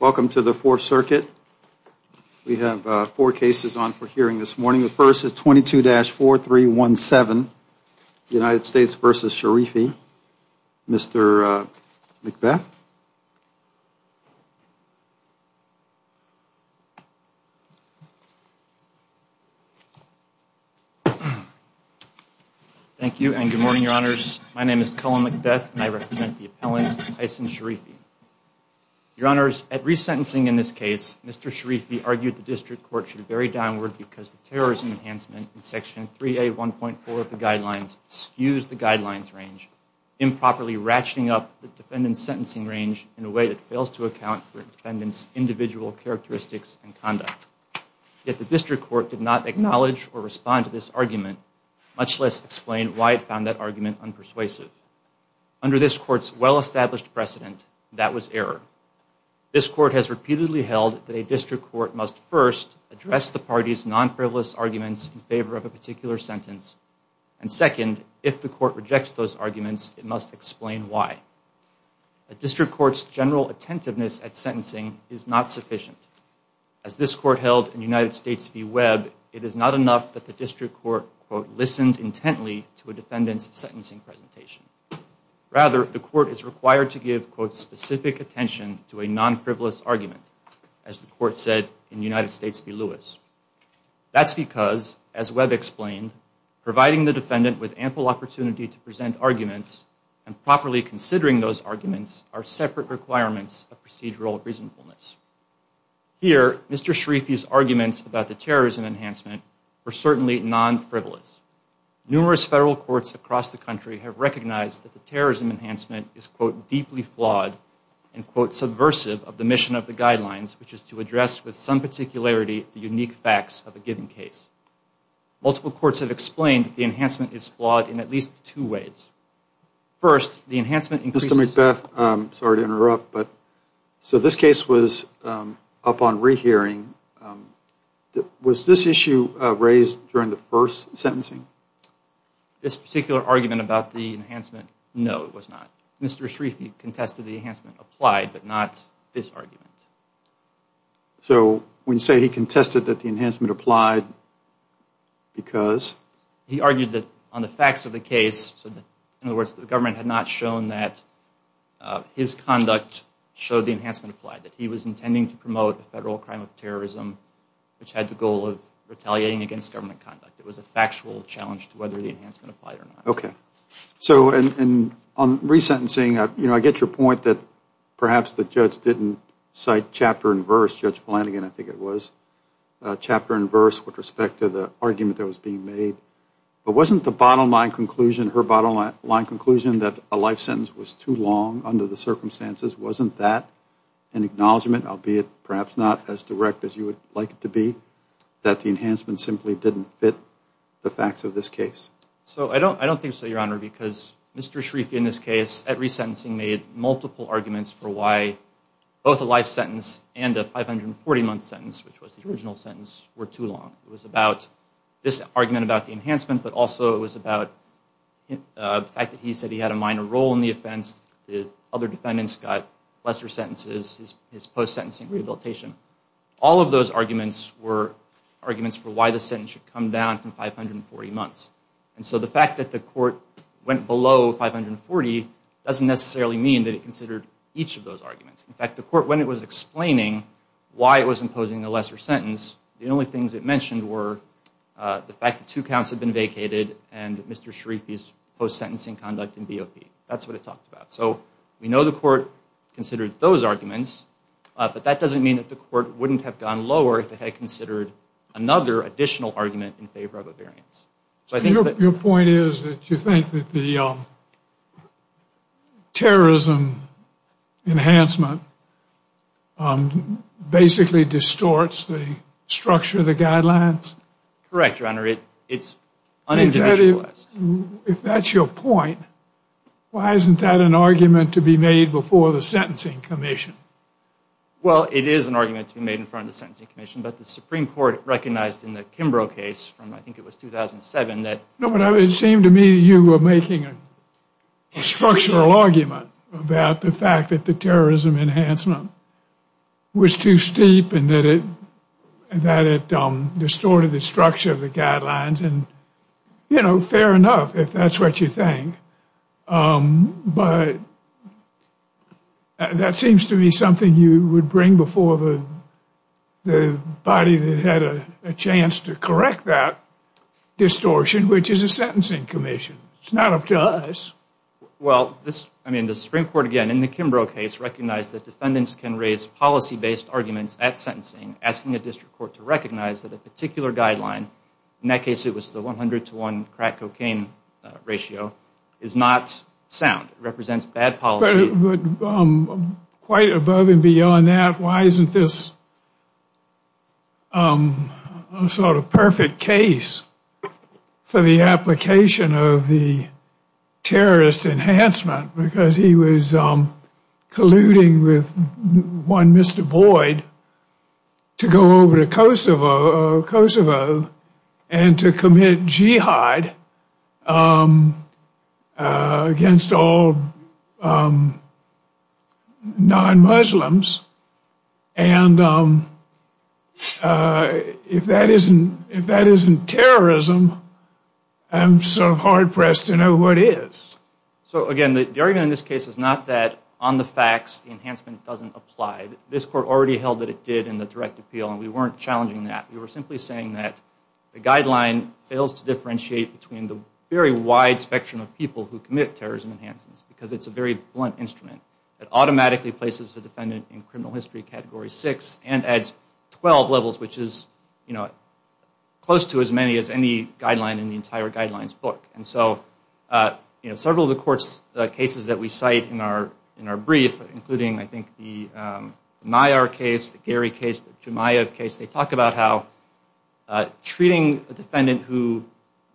Welcome to the Fourth Circuit. We have four cases on for hearing this morning. The first is 22-4317, United States v. Sherifi. Mr. McBeth? Thank you and good morning, Your Honors. My name is Colin McBeth and I represent the appellant Hysen Sherifi. Your Honors, at resentencing in this case, Mr. Sherifi argued the district court should vary downward because the terrorism enhancement in Section 3A.1.4 of the guidelines skews the guidelines range, improperly ratcheting up the defendant's sentencing range in a way that fails to account for the defendant's individual characteristics and conduct. Yet the district court did not acknowledge or respond to this argument, much less explain why it found that argument unpersuasive. Under this court's well-established precedent, that was error. This court has repeatedly held that a district court must first address the party's non-frivolous arguments in favor of a particular sentence, and second, if the court rejects those arguments, it must explain why. A district court's general attentiveness at sentencing is not sufficient. As this court held in United States v. Webb, it is not enough that the district court, quote, listened intently to a defendant's sentencing presentation. Rather, the court is required to give, quote, specific attention to a non-frivolous argument, as the court said in United States v. Lewis. That's because, as Webb explained, providing the defendant with ample opportunity to present arguments and properly considering those arguments are separate requirements of procedural reasonableness. Here, Mr. Sherifi's arguments about the terrorism enhancement were certainly non-frivolous. Numerous federal courts across the country have recognized that the terrorism enhancement is, quote, deeply flawed, and, quote, subversive of the mission of the guidelines, which is to address with some particularity the unique facts of a given case. Multiple courts have explained the enhancement is flawed in at least two ways. First, the enhancement increases- Mr. McBeth, sorry to interrupt, but, so this case was up on rehearing. Was this issue raised during the first sentencing? This particular argument about the enhancement, no, it was not. Mr. Sherifi contested the enhancement applied, but not this argument. So when you say he contested that the enhancement applied, because? He argued that on the facts of the case, so in other words, the government had not shown that his conduct showed the enhancement applied, that he was intending to promote a federal crime of terrorism which had the goal of retaliating against government conduct. It was a factual challenge to whether the enhancement applied or not. So on resentencing, you know, I get your point that perhaps the judge didn't cite chapter and verse, Judge Flanagan, I think it was, chapter and verse with respect to the argument that was being made, but wasn't the bottom line conclusion, her bottom line conclusion that a life sentence was too long under the circumstances, wasn't that an acknowledgment, albeit perhaps not as direct as you would like it to be, that the enhancement simply didn't fit the facts of this case? So I don't think so, your honor, because Mr. Sherifi in this case, at resentencing, made multiple arguments for why both a life sentence and a 540 month sentence, which was the original sentence, were too long. It was about this argument about the enhancement, but also it was about the fact that he said he had a minor role in the offense, the other defendants got lesser sentences, his post-sentencing rehabilitation. All of those arguments were arguments for why the sentence should come down from 540 months. And so the fact that the court went below 540 doesn't necessarily mean that it considered each of those arguments. In fact, the court, when it was explaining why it was imposing a lesser sentence, the only things it mentioned were the fact that two counts had been vacated and Mr. Sherifi's post-sentencing conduct in BOP. That's what it talked about. So we know the court considered those arguments, but that doesn't mean that the court wouldn't have gone lower if it had considered another additional argument in favor of a variance. So I think that... Your point is that you think that the terrorism enhancement basically distorts the structure of the guidelines? Correct, Your Honor. It's un-individualized. If that's your point, why isn't that an argument to be made before the Sentencing Commission? Well, it is an argument to be made in front of the Sentencing Commission, but the Supreme Court recognized in the Kimbrough case from, I think it was 2007, that... No, it seemed to me that you were making a structural argument about the fact that the terrorism enhancement was too steep and that it distorted the structure of the guidelines, and, you know, fair enough if that's what you think. But that seems to be something you would bring before the body that had a chance to correct that distortion, which is essentially the Sentencing Commission. It's not up to us. Well, I mean, the Supreme Court, again, in the Kimbrough case, recognized that defendants can raise policy-based arguments at sentencing asking a district court to recognize that a particular guideline, in that case it was the 100 to 1 crack-cocaine ratio, is not sound. It represents bad policy. But quite above and beyond that, why isn't this a sort of perfect case for the application of the Sentencing Commission? Why isn't this an application of the terrorist enhancement? Because he was colluding with one Mr. Boyd to go over to Kosovo and to commit jihad against all non-Muslims. And if that isn't terrorism, I'm sort of hard-pressed to know what is. So, again, the argument in this case is not that on the facts the enhancement doesn't apply. This Court already held that it did in the direct appeal, and we weren't challenging that. We were simply saying that the guideline fails to differentiate between the very wide spectrum of people who commit terrorism enhancements because it's a very blunt instrument. It automatically places a defendant in criminal history category 6 and adds 12 levels, which is close to as many as any guideline in the entire guidelines book. And so several of the cases that we cite in our brief, including I think the Nayar case, the Gary case, the Jemayev case, they talk about how treating a defendant who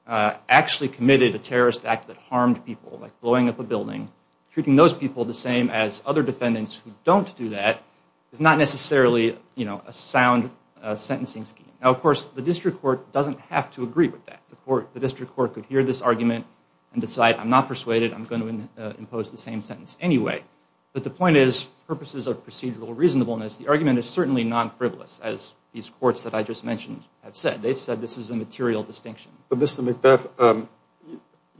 actually committed a terrorist act that harmed people like blowing up a building, treating those people the same as other defendants who don't do that is not necessarily a sound sentencing scheme. Now, of course, the District Court doesn't have to agree with that. The District Court could hear this argument and decide I'm not persuaded. I'm going to impose the same sentence anyway. But the point is purposes of procedural reasonableness, the argument is certainly non-frivolous, as these courts that I just mentioned have said. They've said this is a material distinction. But Mr. McBeth,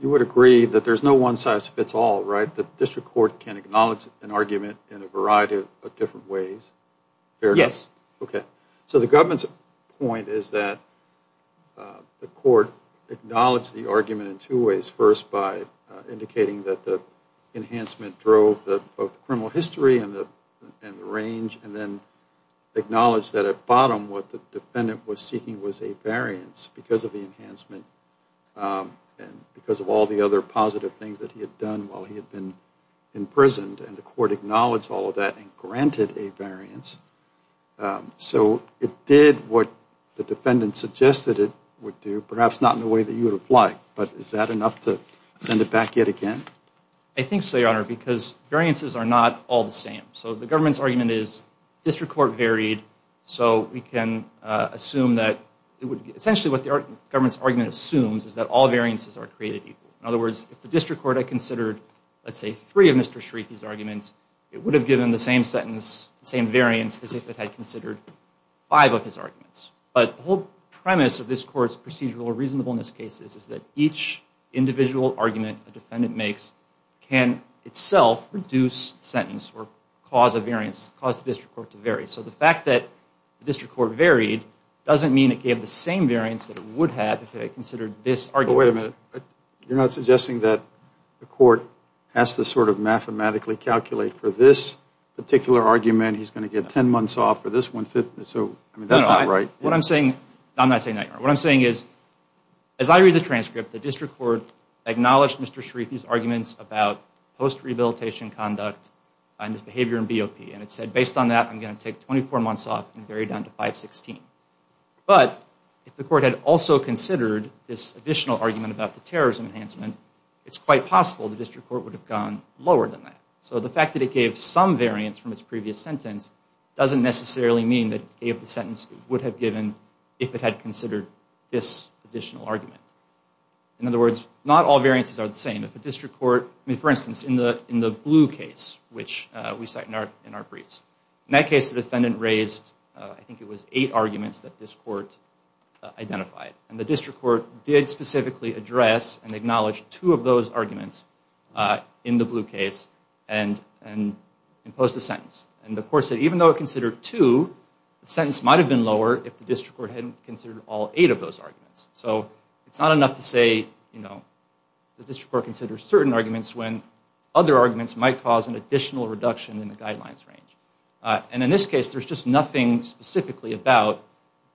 you would agree that there's no one-size-fits-all, right? That the District Court can acknowledge an argument in a variety of different ways? Yes. Okay. So the government's point is that the court acknowledged the argument in two ways. First, by indicating that the enhancement drove both the criminal history and the range and then acknowledged that at bottom what the defendant was seeking was a variance because of the enhancement and because of all the other positive things that he had done while he had been imprisoned. And the court acknowledged all of that and granted a variance. So it did what the defendant suggested it would do, perhaps not in the way that you would have liked. But is that enough to send it back yet again? I think so, Your Honor, because variances are not all the same. So the government's argument assumes is that all variances are created equal. In other words, if the District Court had considered, let's say, three of Mr. Sharifi's arguments, it would have given the same sentence, the same variance as if it had considered five of his arguments. But the whole premise of this Court's procedural reasonableness case is that each individual argument a defendant makes can itself reduce the sentence or cause a variance, cause the District Court to vary. So the fact that the District Court varied doesn't mean it gave the same variance that it would have if it had considered this argument. But wait a minute. You're not suggesting that the court has to sort of mathematically calculate for this particular argument, he's going to get 10 months off for this one, so that's not right. No, I'm not saying that, Your Honor. What I'm saying is, as I read the transcript, the District Court acknowledged Mr. Sharifi's arguments about post-rehabilitation conduct and his behavior in BOP. And it said, based on that, I'm going to take 24 months off and vary down to 516. But if the court had also considered this additional argument about the terrorism enhancement, it's quite possible the District Court would have gone lower than that. So the fact that it gave some variance from its previous sentence doesn't necessarily mean that it gave the sentence it would have given if it had considered this additional argument. In other words, not all variances are the same. If a District Court, I mean, for instance, in the blue case, which we cite in our briefs, in that case, the defendant raised, I think it was eight arguments that this court identified. And the District Court did specifically address and acknowledge two of those arguments in the blue case and imposed a sentence. And the court said, even though it considered two, the sentence might have been lower if the District Court hadn't considered all eight of those arguments. So it's not enough to say, you know, the District Court considers certain arguments when other arguments might cause an additional reduction in the guidelines range. And in this case, there's just nothing specifically about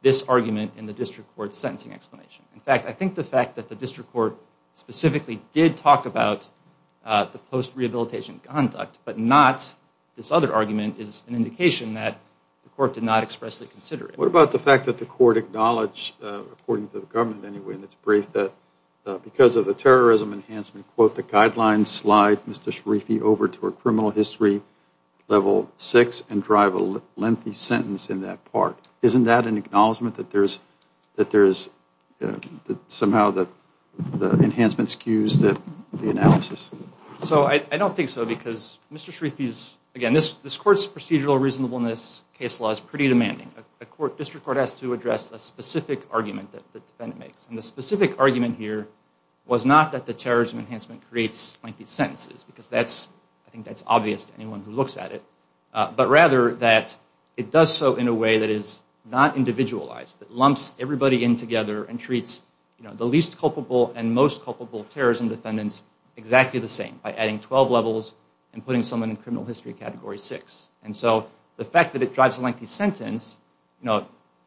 this argument in the District Court's sentencing explanation. In fact, I think the fact that the District Court specifically did talk about the post-rehabilitation conduct, but not this other argument, is an indication that the court did not expressly consider it. What about the fact that the court acknowledged, according to the government anyway, in its brief, that because of the terrorism enhancement, quote, the guidelines slide, Mr. Sharifi, over to a criminal history level six and drive a lengthy sentence in that part. Isn't that an acknowledgment that there's somehow the enhancement skews the analysis? So I don't think so, because Mr. Sharifi's, again, this court's procedural reasonableness case law is pretty demanding. The District Court has to address a specific argument that the defendant makes. And the specific argument here was not that the terrorism enhancement creates lengthy sentences, because I think that's obvious to anyone who looks at it. But rather that it does so in a way that is not individualized, that lumps everybody in together and treats the least culpable and most culpable terrorism defendants exactly the same by adding 12 levels and putting someone in criminal history category six. And so the fact that it drives a lengthy sentence,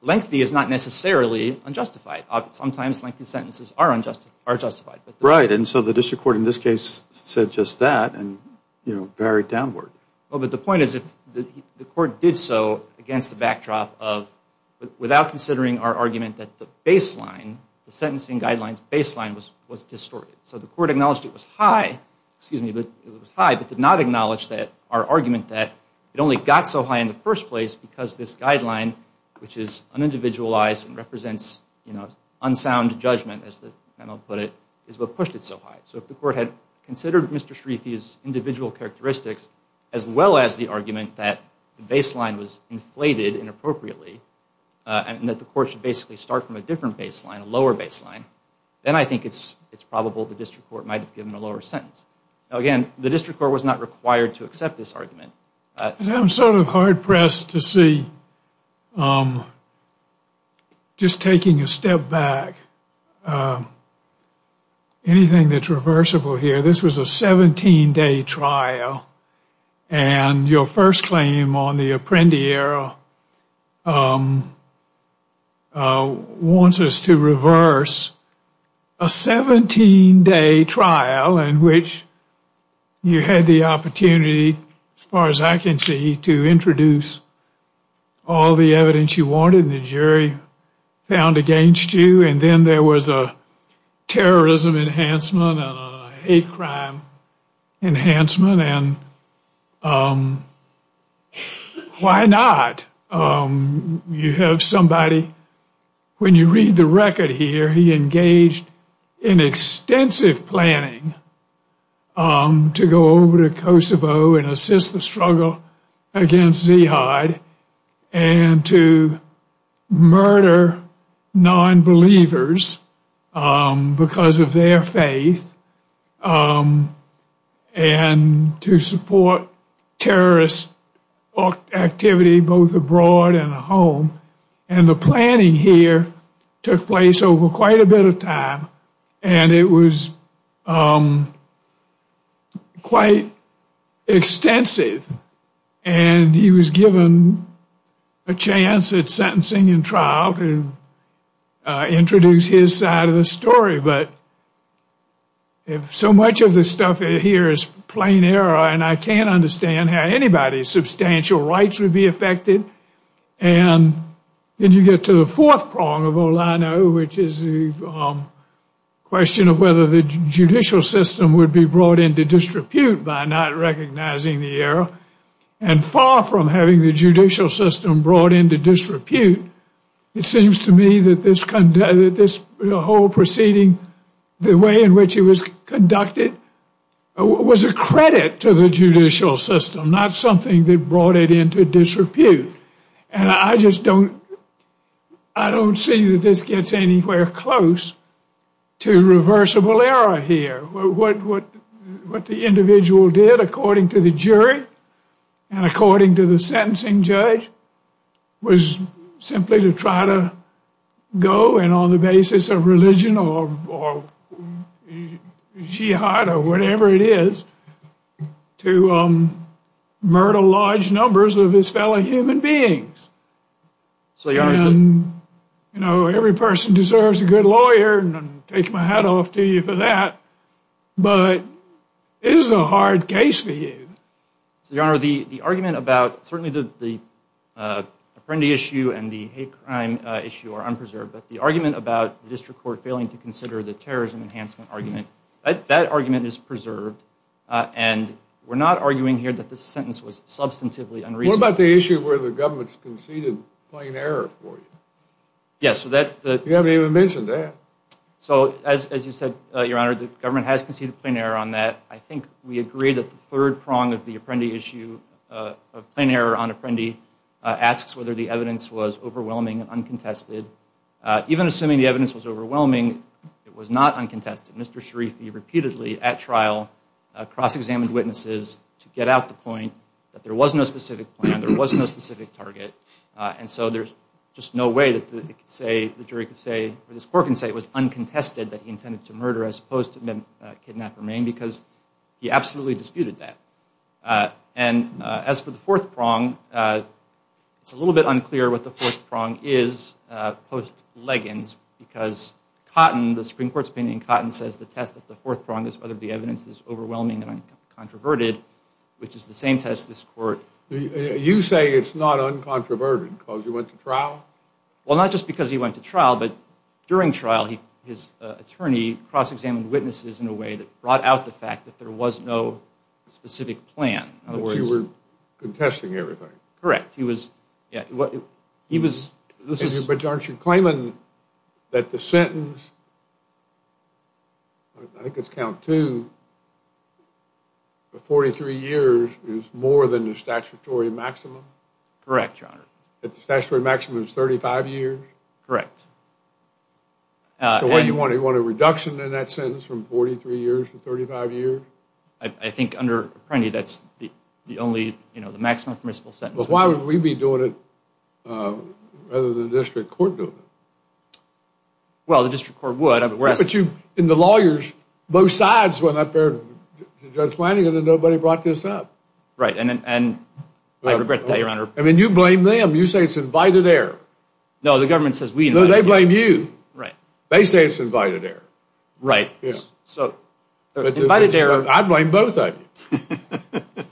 lengthy is not necessarily unjustified. Sometimes lengthy sentences are unjustified. Right. And so the District Court in this case said just that and, you know, buried downward. Well, but the point is if the court did so against the backdrop of without considering our argument that the baseline, the sentencing guidelines baseline was distorted. So the court acknowledged it was high, excuse me, but it was high, but did not acknowledge that our argument that it only got so high in the first place because this guideline, which is unindividualized and represents, you know, unsound judgment as the panel put it, is what pushed it so high. So if the court had considered Mr. Shreethi's individual characteristics as well as the argument that the baseline was inflated inappropriately and that the court should basically start from a different baseline, a lower baseline, then I think it's probable the District Court might have given a lower sentence. Again, the District Court was not required to accept this argument. I'm sort of hard-pressed to see, just taking a step back, anything that's reversible here. This was a 17-day trial and your first claim on the Apprendi Era wants us to reverse a 17-day trial in which you had the opportunity, as far as I can see, to introduce all the evidence you wanted and the jury found against you and then there was a terrorism enhancement and a hate crime enhancement and why not? You have somebody, when you read the record here, he engaged in extensive planning to go over to Kosovo and assist the struggle against Ziad and to murder non-believers because of their faith and to support terrorist activity both abroad and at home and the planning here took place over quite a bit of time and it was quite extensive and he was given a chance at sentencing and trial to introduce his side of the story but so much of this stuff here is plain error and I can't understand how anybody's substantial rights would be affected and then you get to the fourth prong of all I know which is the question of whether the judicial system would be brought into disrepute by not recognizing the era and far from having the judicial system brought into disrepute, it seems to me that this whole proceeding, the way in which it was conducted, was a credit to the judicial system, not something that brought it into disrepute and I just don't see that this gets anywhere close to reversible error here. What the individual did according to the jury and according to the sentencing judge was simply to try to go and on the basis of religion or murder large numbers of his fellow human beings and you know every person deserves a good lawyer and I take my hat off to you for that but it is a hard case for you. So your honor the argument about certainly the Apprendi issue and the hate crime issue are unpreserved but the argument about the district court failing to consider the terrorism enhancement argument, that argument is unpreserved and we're not arguing here that this sentence was substantively unreasonable. What about the issue where the government's conceded plain error for you? You haven't even mentioned that. So as you said your honor the government has conceded plain error on that. I think we agree that the third prong of the Apprendi issue of plain error on Apprendi asks whether the evidence was overwhelming and uncontested. Even assuming the evidence was overwhelming it was not uncontested. Mr. Sharifi repeatedly at trial cross-examined witnesses to get out the point that there was no specific plan, there was no specific target, and so there's just no way that it could say the jury could say or this court can say it was uncontested that he intended to murder as opposed to kidnap or maim because he absolutely disputed that. And as for the fourth prong is post Leggins because Cotton, the Supreme Court's opinion, Cotton says the test at the fourth prong is whether the evidence is overwhelming and uncontroverted which is the same test this court. You say it's not uncontroverted because he went to trial? Well not just because he went to trial but during trial his attorney cross-examined witnesses in a way that brought out the fact that there was no specific plan. In other words, you were contesting everything. Correct, he was, yeah, he was, this is, but aren't you claiming that the sentence, I think it's count two, for 43 years is more than the statutory maximum? Correct, your honor. That the statutory maximum is 35 years? Correct. So what do you want, you want a reduction in that sentence from 43 years to 35 years? I think under Apprenti that's the the only, you know, the maximum permissible sentence. But why would we be doing it rather than the district court doing it? Well the district court would. But you, and the lawyers, both sides went up there, Judge Flanagan and nobody brought this up. Right, and I regret to tell you, your honor. I mean you blame them, you say it's invited error. No, the government says we invited error. No, they blame you. Right. They say it's invited error. Right, so invited error. I blame both of you.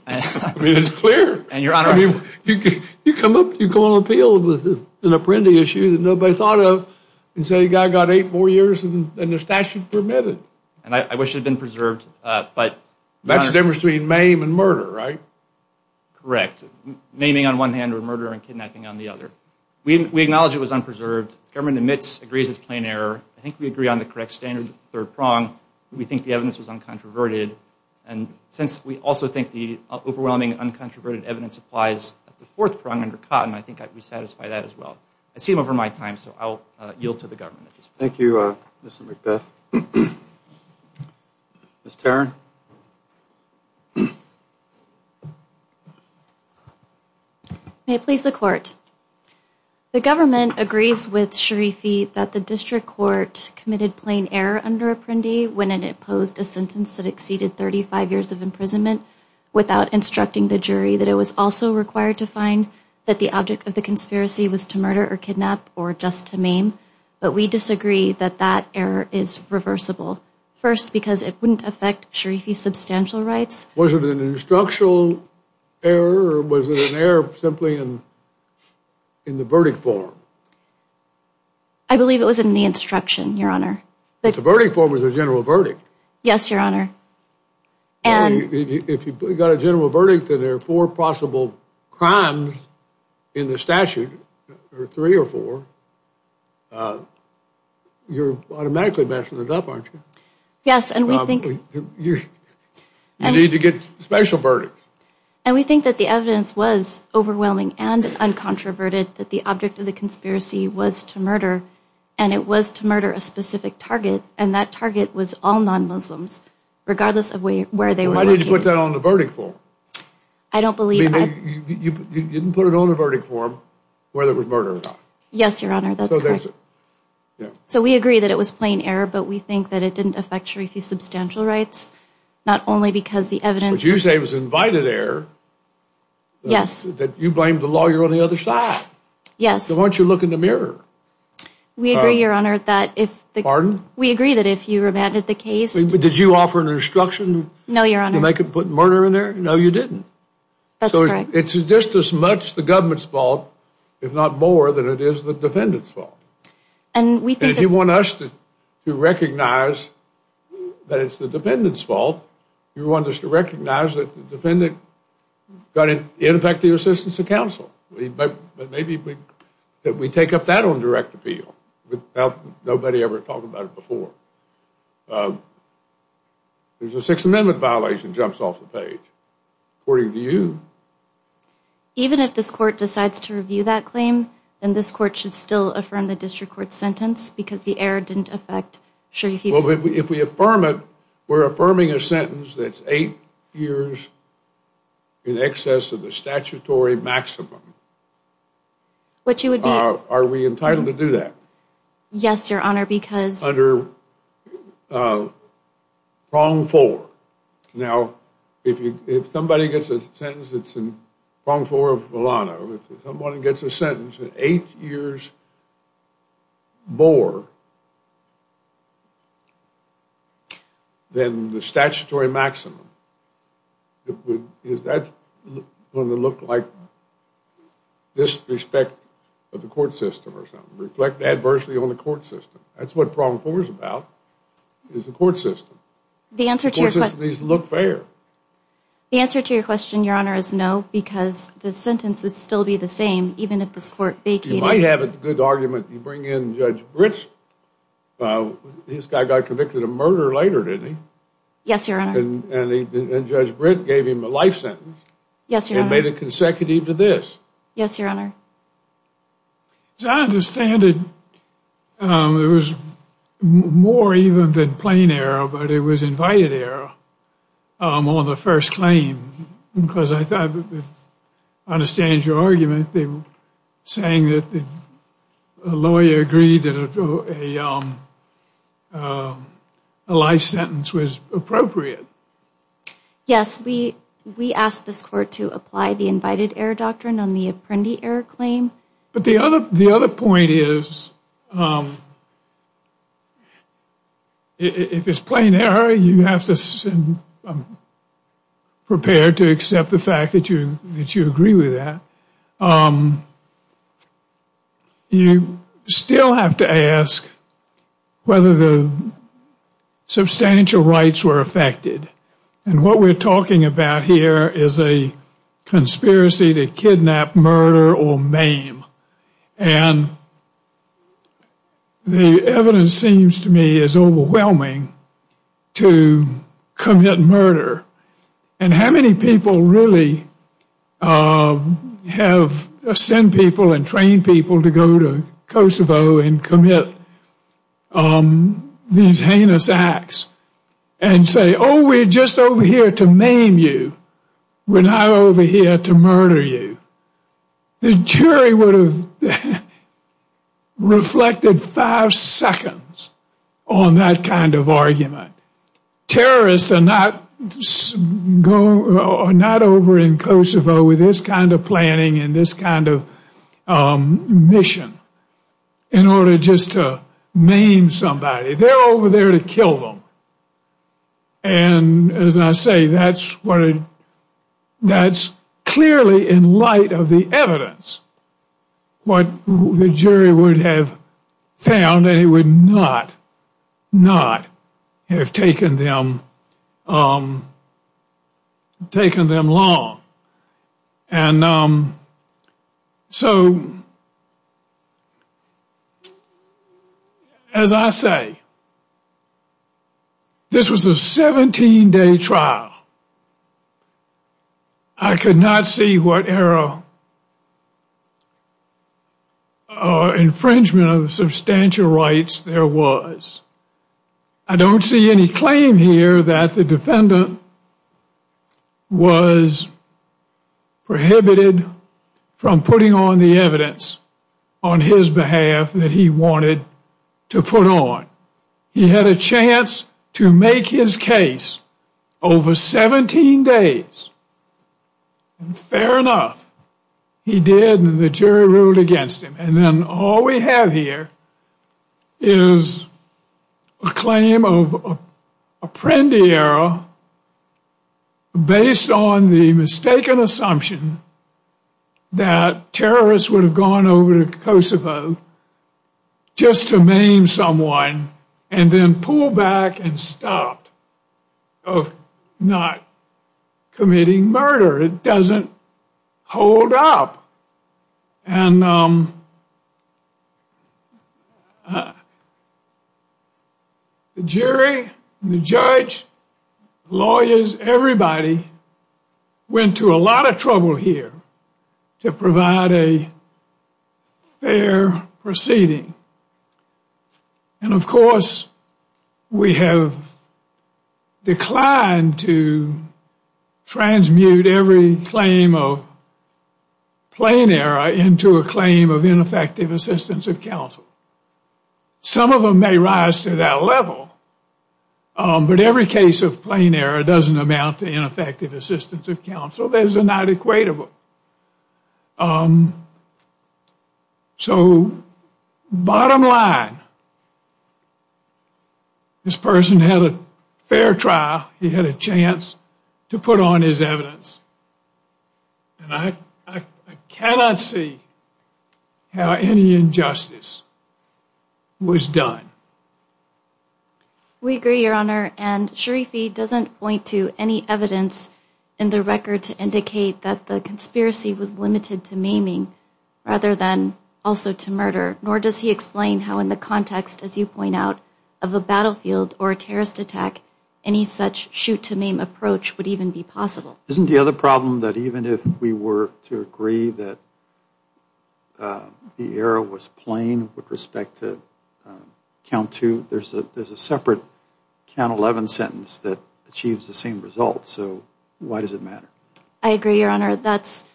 I mean it's clear. And your honor. You come up, you go on appeal with an Apprenti issue that nobody thought of, and say the guy got eight more years and the statute permitted. And I wish it had been preserved, but. That's the difference between maim and murder, right? Correct, maiming on one hand or murder and kidnapping on the other. We acknowledge it was unpreserved. Government admits, agrees it's plain error. I think we have the correct standard third prong. We think the evidence was uncontroverted. And since we also think the overwhelming uncontroverted evidence applies at the fourth prong under Cotton, I think I'd be satisfied that as well. I seem over my time, so I'll yield to the government. Thank you Mr. McBeth. Ms. Tarrin. May it please the court. The government agrees with Sharifi that the district court committed plain error under Apprendi when it imposed a sentence that exceeded 35 years of imprisonment without instructing the jury that it was also required to find that the object of the conspiracy was to murder or kidnap or just to maim. But we disagree that that error is reversible. First, because it wouldn't affect Sharifi's substantial rights. Was it an instructional error or was it an error simply in the verdict form? I believe it was in the instruction, your honor. The verdict form was a general verdict. Yes, your honor. And if you got a general verdict and there are four possible crimes in the statute or three or four, you're automatically messing it up, aren't you? Yes, and we think you need to get special verdicts. And we think that the evidence was overwhelming and uncontroverted that the object of the conspiracy was to murder and it was to murder a specific target and that target was all non-Muslims regardless of where they were. I need to put that on the verdict form. I don't believe. You didn't put it on the verdict form where there was murder. Yes, your honor. That's correct. So we agree that it was plain error, but we think that it didn't affect Sharifi's substantial rights, not only because the evidence. But you say it was invited error. Yes. That you blamed the lawyer on the other side. Yes. So why don't you look in the mirror? We agree, your honor, that if the. Pardon? We agree that if you remanded the case. Did you offer an instruction? No, your honor. To put murder in there? No, you didn't. That's correct. It's just as much the government's fault, if not more, than it is the defendant's fault. And we think. And if you want us to recognize that it's the defendant's fault, you want us to recognize that the defendant got ineffective assistance of counsel. But maybe we take up that on direct appeal without nobody ever talking about it before. There's a Sixth Amendment violation jumps off the page. According to you. Even if this court decides to review that claim, then this court should still affirm the district court sentence because the error didn't affect Sharifi's. Well, if we affirm it, we're affirming a sentence that's eight years in excess of the statutory maximum. But you would be. Are we entitled to do that? Yes, your honor, because. Under prong four. Now, if you, if somebody gets a sentence that's in prong four of Milano, someone gets a sentence of eight years more than the statutory maximum, is that going to look like disrespect of the court system or something? Reflect adversely on the court system. That's what prong four is about, is the court system. The answer to your question. The court system needs to look fair. The answer to your question, your honor, is no, because the sentence would still be the same even if this court vacated. You might have a good argument. You bring in Judge Britz. This guy got convicted of murder later, didn't he? Yes, your honor. And Judge Britz gave him a life sentence. Yes, your honor. And made it consecutive to this. Yes, your honor. As I understand it, it was more even than plain error, but it was invited error on the first claim, because I thought, I understand your argument, they were saying that the lawyer agreed that a life sentence was appropriate. Yes, we asked this court to apply the invited error doctrine on the apprendee error claim. But the other point is, if it's plain error, you have to prepare to accept the fact that you agree with that. You still have to ask whether the substantial rights were affected. And what we're talking about here is a conspiracy to kidnap, murder, or maim. And the evidence seems to me is overwhelming to commit murder. And how many people really have sent people and trained people to go to We're not over here to murder you. The jury would have reflected five seconds on that kind of argument. Terrorists are not over in Kosovo with this kind of planning and this kind of mission in order just to maim somebody. They're over there to kill them. And as I say, that's what that's clearly in light of the evidence. What the jury would have found, they would not, not have taken them long. And so, as I say, this was a 17 day trial. I could not see what error or infringement of substantial rights there was. I don't see any claim here that the defendant was prohibited from putting on the evidence on his behalf that he wanted to put on. He had a chance to make his case over 17 days. And fair enough, he did and the jury ruled against him. And then all we have here is a claim of a prende error based on the mistaken assumption that terrorists would have gone over to Kosovo just to maim someone and then pull back and stop of not committing murder. It doesn't hold up. And the jury, the judge, lawyers, everybody went to a lot of trouble here to provide a fair proceeding. And of course, we have declined to transmute every claim of ineffective assistance of counsel. Some of them may rise to that level, but every case of plain error doesn't amount to ineffective assistance of counsel. Those are not equatable. So, bottom line, this person had a fair trial. He had a chance to put on his evidence. And I cannot see how any injustice was done. We agree, Your Honor, and Sharifi doesn't point to any evidence in the record to indicate that the conspiracy was limited to maiming rather than also to murder, nor does he explain how in the context, as you point out, of a battlefield or a terrorist attack, any such shoot to maim approach would even be possible. Isn't the problem that even if we were to agree that the error was plain with respect to count two, there's a separate count 11 sentence that achieves the same result. So, why does it matter? I agree, Your Honor. That's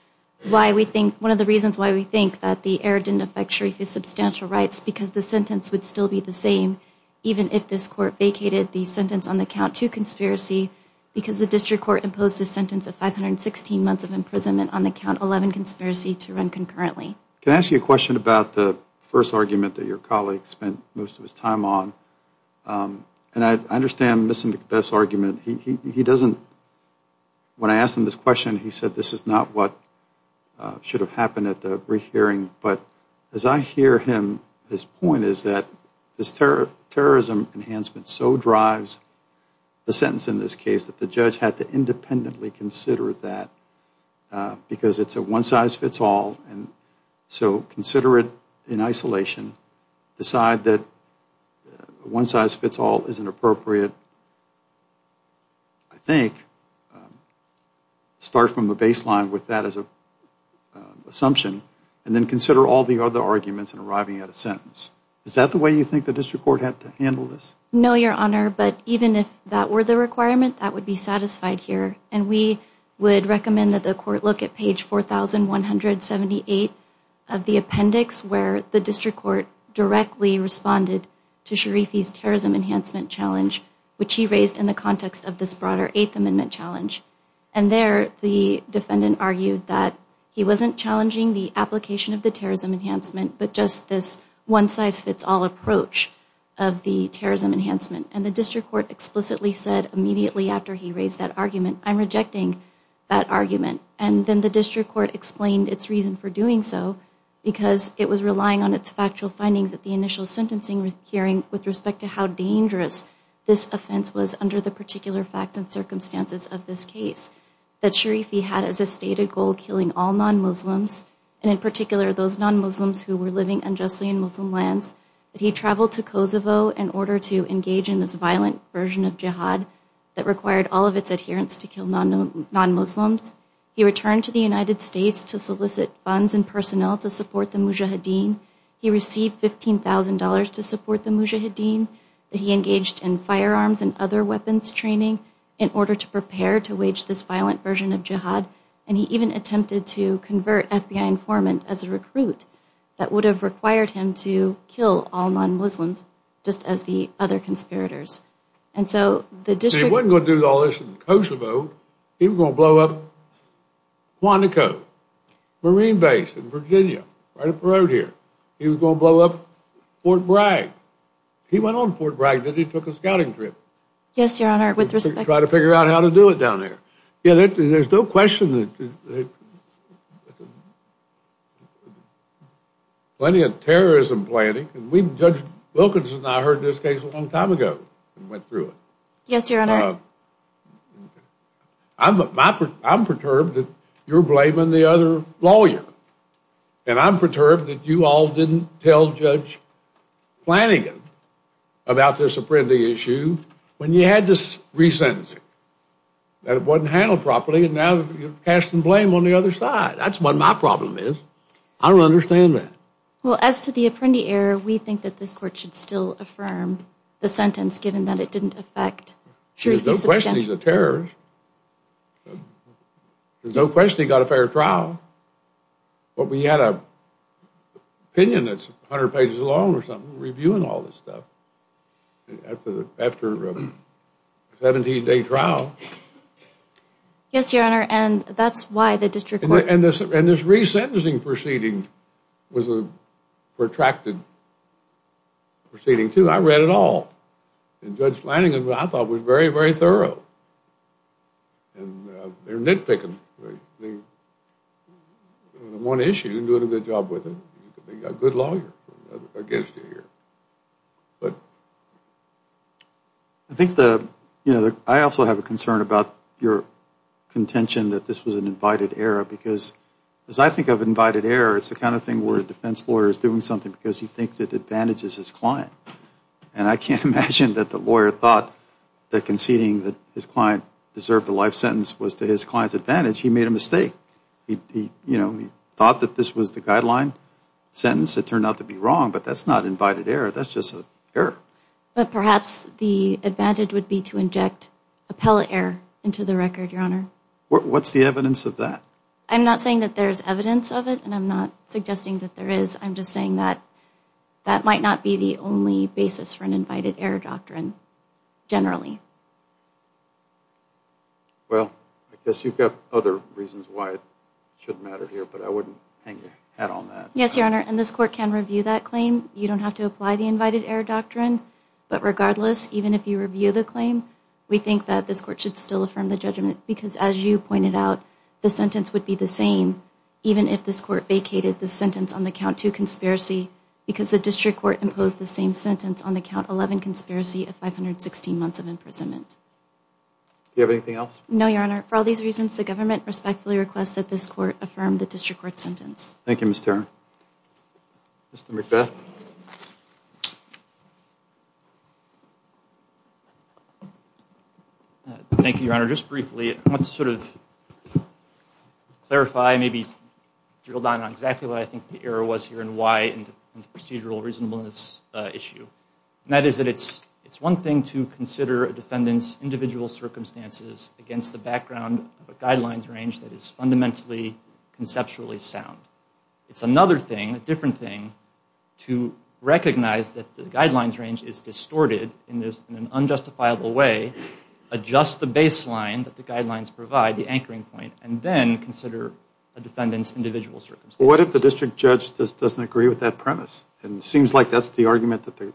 why we think, one of the reasons why we think that the error didn't affect Sharifi's substantial rights because the sentence would still be the same even if this court vacated the sentence on the count two conspiracy because the district court imposed a sentence of 516 months of imprisonment on the count 11 conspiracy to run concurrently. Can I ask you a question about the first argument that your colleague spent most of his time on? And I understand Mr. McBeth's argument. He doesn't, when I asked him this question, he said this is not what should have happened at the re-hearing. But as I hear him, his point is that this terrorism enhancement so drives the sentence in this case that the judge had to independently consider that because it's a one-size-fits-all and so consider it in isolation, decide that one-size-fits-all isn't appropriate, I think, start from the baseline with that as a assumption and then consider all the other arguments in arriving at a sentence. Is that the way you think the district court had to handle this? No, Your Honor. But even if that were the requirement, that would be satisfied here. And we would recommend that the court look at page 4178 of the appendix where the district court directly responded to Sharifi's terrorism enhancement challenge, which he raised in the context of this broader Eighth Amendment challenge. And there the defendant argued that he wasn't challenging the application of the terrorism enhancement, but just this one-size-fits-all approach of the terrorism enhancement. And the district court explicitly said immediately after he raised that argument, I'm rejecting that argument. And then the district court explained its reason for doing so because it was relying on its factual findings at the initial sentencing hearing with respect to how dangerous this offense was under the particular facts and circumstances of this case. That Sharifi had as a stated goal killing all non-Muslims, and in particular those non-Muslims who were living unjustly in Muslim lands. That he traveled to Kosovo in order to engage in this violent version of jihad that required all of its adherents to kill non-Muslims. He returned to the United States to solicit funds and personnel to support the Mujahideen. He received $15,000 to support the Mujahideen. That he engaged in firearms and other weapons training in order to prepare to wage this informant as a recruit that would have required him to kill all non-Muslims just as the other conspirators. And so the district... He wasn't going to do all this in Kosovo. He was going to blow up Quantico, Marine Base in Virginia, right up the road here. He was going to blow up Fort Bragg. He went on Fort Bragg and he took a scouting trip. Yes, Your Honor, with respect... To try to figure out how to do it down there. Yeah, there's no question that... Plenty of terrorism planning. Judge Wilkinson and I heard this case a long time ago and went through it. Yes, Your Honor. I'm perturbed that you're blaming the other lawyer. And I'm perturbed that you all didn't tell Judge Flanagan about this Apprendi issue when you had this re-sentencing. That it wasn't handled properly and now you're casting blame on the other side. That's what my problem is. I don't understand that. Well, as to the Apprendi error, we think that this court should still affirm the sentence given that it didn't affect... There's no question he's a terrorist. There's no question he got a fair trial. But we had an opinion that's 100 pages long or something reviewing all this stuff after a 17-day trial. Yes, Your Honor, and that's why the district court... And this re-sentencing proceeding was a protracted proceeding, too. I read it all. And Judge Flanagan, I thought, was very, very thorough. And they're nitpicking. The one issue, you're doing a good job with it. You've got a good lawyer against you here. I think the... I also have a concern about your contention that this was an invited error because as I think of invited error, it's the kind of thing where a defense lawyer is doing something because he thinks it advantages his client. And I can't imagine that the lawyer thought that conceding that his client deserved a life sentence was to his client's advantage. He made a mistake. He thought that this was the guideline sentence. It turned out to be wrong, but that's not invited error. That's just an error. But perhaps the advantage would be to inject appellate error into the record, Your Honor. What's the evidence of that? I'm not saying that there's evidence of it, and I'm not suggesting that there is. I'm just saying that that might not be the only basis for an invited error doctrine. Generally. Well, I guess you've got other reasons why it shouldn't matter here, but I wouldn't hang your hat on that. Yes, Your Honor. And this court can review that claim. You don't have to apply the invited error doctrine. But regardless, even if you review the claim, we think that this court should still affirm the judgment because as you pointed out, the sentence would be the same even if this court vacated the sentence on the count two conspiracy because the district court imposed the same sentence on the count 11 conspiracy of 516 months of imprisonment. Do you have anything else? No, Your Honor. For all these reasons, the government respectfully requests that this court affirm the district court sentence. Thank you, Ms. Tarrant. Mr. McBeth. Thank you, Your Honor. Just briefly, I want to sort of clarify, maybe drill down on exactly what I think the error was here and why in the procedural reasonableness issue. And that is that it's one thing to consider a defendant's individual circumstances against the background of a guidelines range that is fundamentally, conceptually sound. It's another thing, a different thing, to recognize that the guidelines range is distorted in an unjustifiable way, adjust the baseline that the guidelines provide, the anchoring point, and then consider a defendant's individual circumstances. What if the district judge just doesn't agree with that premise? And it seems like that's the argument that the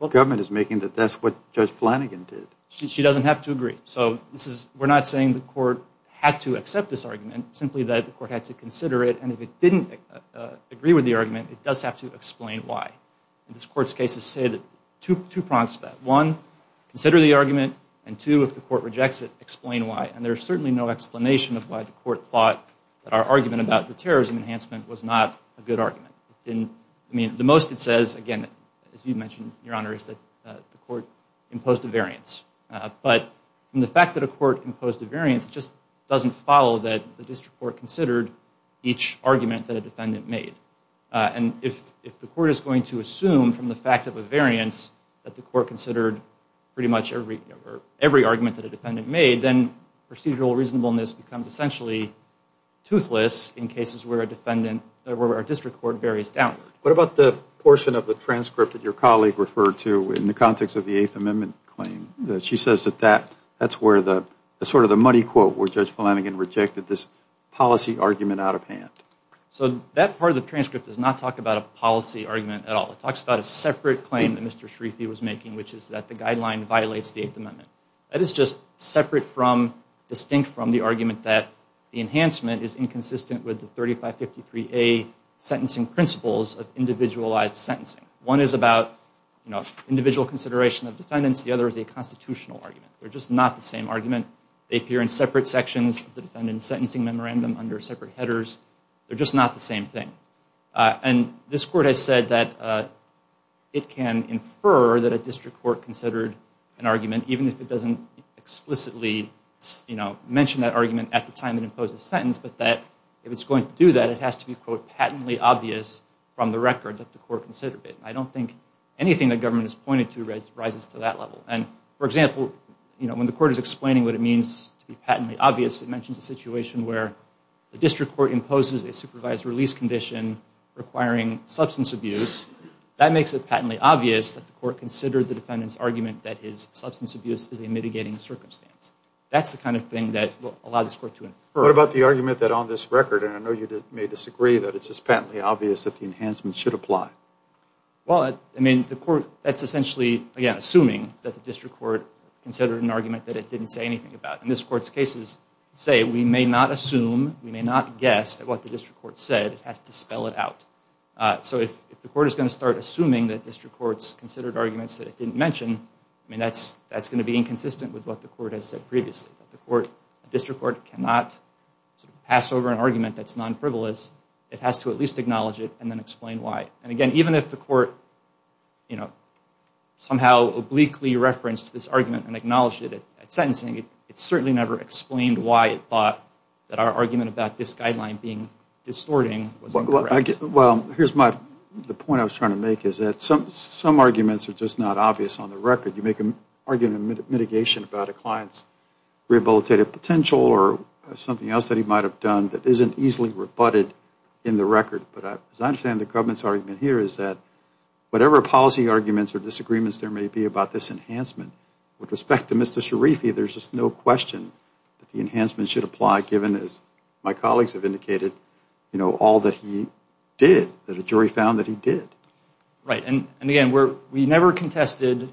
government is making, that that's what Judge Flanagan did. She doesn't have to agree. So this is, we're not saying the court had to accept this argument, simply that the court had to consider it. And if it didn't agree with the argument, it does have to explain why. And this court's cases say that, two prompts to that. One, consider the argument. And two, if the court rejects it, explain why. And there's certainly no explanation of why the court thought that our argument about the terrorism enhancement was not a good argument. I mean, the most it says, again, as you mentioned, Your Honor, is that the court imposed a variance. But from the fact that a court imposed a variance, it just doesn't follow that the district court considered each argument that a defendant made. And if the court is going to assume from the fact of a variance that the court considered pretty much every argument that essentially toothless in cases where a defendant, where our district court varies downward. What about the portion of the transcript that your colleague referred to in the context of the Eighth Amendment claim? She says that that's where the, sort of the muddy quote where Judge Flanagan rejected this policy argument out of hand. So that part of the transcript does not talk about a policy argument at all. It talks about a separate claim that Mr. Schrieffe was making, which is that the guideline violates the Eighth Amendment. That is just separate from, distinct from the argument that the enhancement is inconsistent with the 3553A sentencing principles of individualized sentencing. One is about, you know, individual consideration of defendants. The other is a constitutional argument. They're just not the same argument. They appear in separate sections of the defendant's sentencing memorandum under separate headers. They're just not the same thing. And this court has said that it can infer that a district court considered an argument, even if it doesn't explicitly, you know, mention that argument at the time it imposed the sentence, but that if it's going to do that, it has to be, quote, patently obvious from the record that the court considered it. I don't think anything the government has pointed to rises to that level. And, for example, you know, when the court is explaining what it means to be patently obvious, it mentions a situation where the district court imposes a supervised release condition requiring substance abuse. That makes it patently obvious that the court considered the defendant's argument that his substance abuse is a mitigating circumstance. That's the kind of thing that will allow this court to infer. What about the argument that on this record, and I know you may disagree, that it's just patently obvious that the enhancement should apply? Well, I mean, the court, that's essentially, again, assuming that the district court considered an argument that it didn't say anything about. In this court's cases, say, we may not assume, we may not guess that what the district court said has to spell it out. So if the court is going to start assuming that district courts considered arguments that it didn't mention, I mean, that's going to be inconsistent with what the court has said previously. That the district court cannot pass over an argument that's non-frivolous. It has to at least acknowledge it and then explain why. And, again, even if the court, you know, somehow obliquely referenced this argument and acknowledged it at sentencing, it certainly never explained why it thought that our argument about this guideline being non-frivolous. Well, here's my, the point I was trying to make is that some arguments are just not obvious on the record. You make an argument of mitigation about a client's rehabilitative potential or something else that he might have done that isn't easily rebutted in the record. But as I understand the government's argument here is that whatever policy arguments or disagreements there may be about this enhancement, with respect to Mr. Sharifi, there's just no question that the enhancement should apply given, as my colleagues have indicated, you know, all that he did, that a jury found that he did. Right. And, again, we never contested,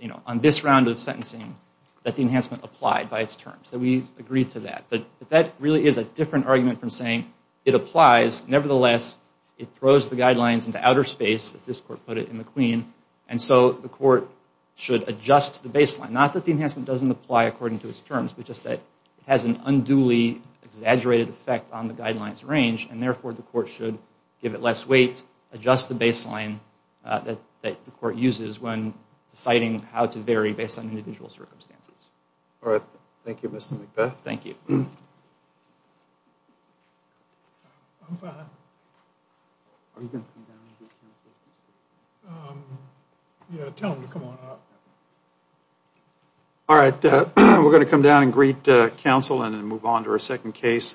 you know, on this round of sentencing that the enhancement applied by its terms, that we agreed to that. But that really is a different argument from saying it applies. Nevertheless, it throws the guidelines into outer space, as this court put it in McQueen. And so the court should adjust the baseline, not that the enhancement doesn't apply according to its terms, but just that it has an unduly exaggerated effect on the guidelines range. And, therefore, the court should give it less weight, adjust the baseline that the court uses when deciding how to vary based on individual circumstances. All right. Thank you, Mr. McBeth. Thank you. I'm fine. Are you going to come down and greet counsel? Yeah, tell him to come on up. All right. We're going to come down and greet counsel and then move on to our second case.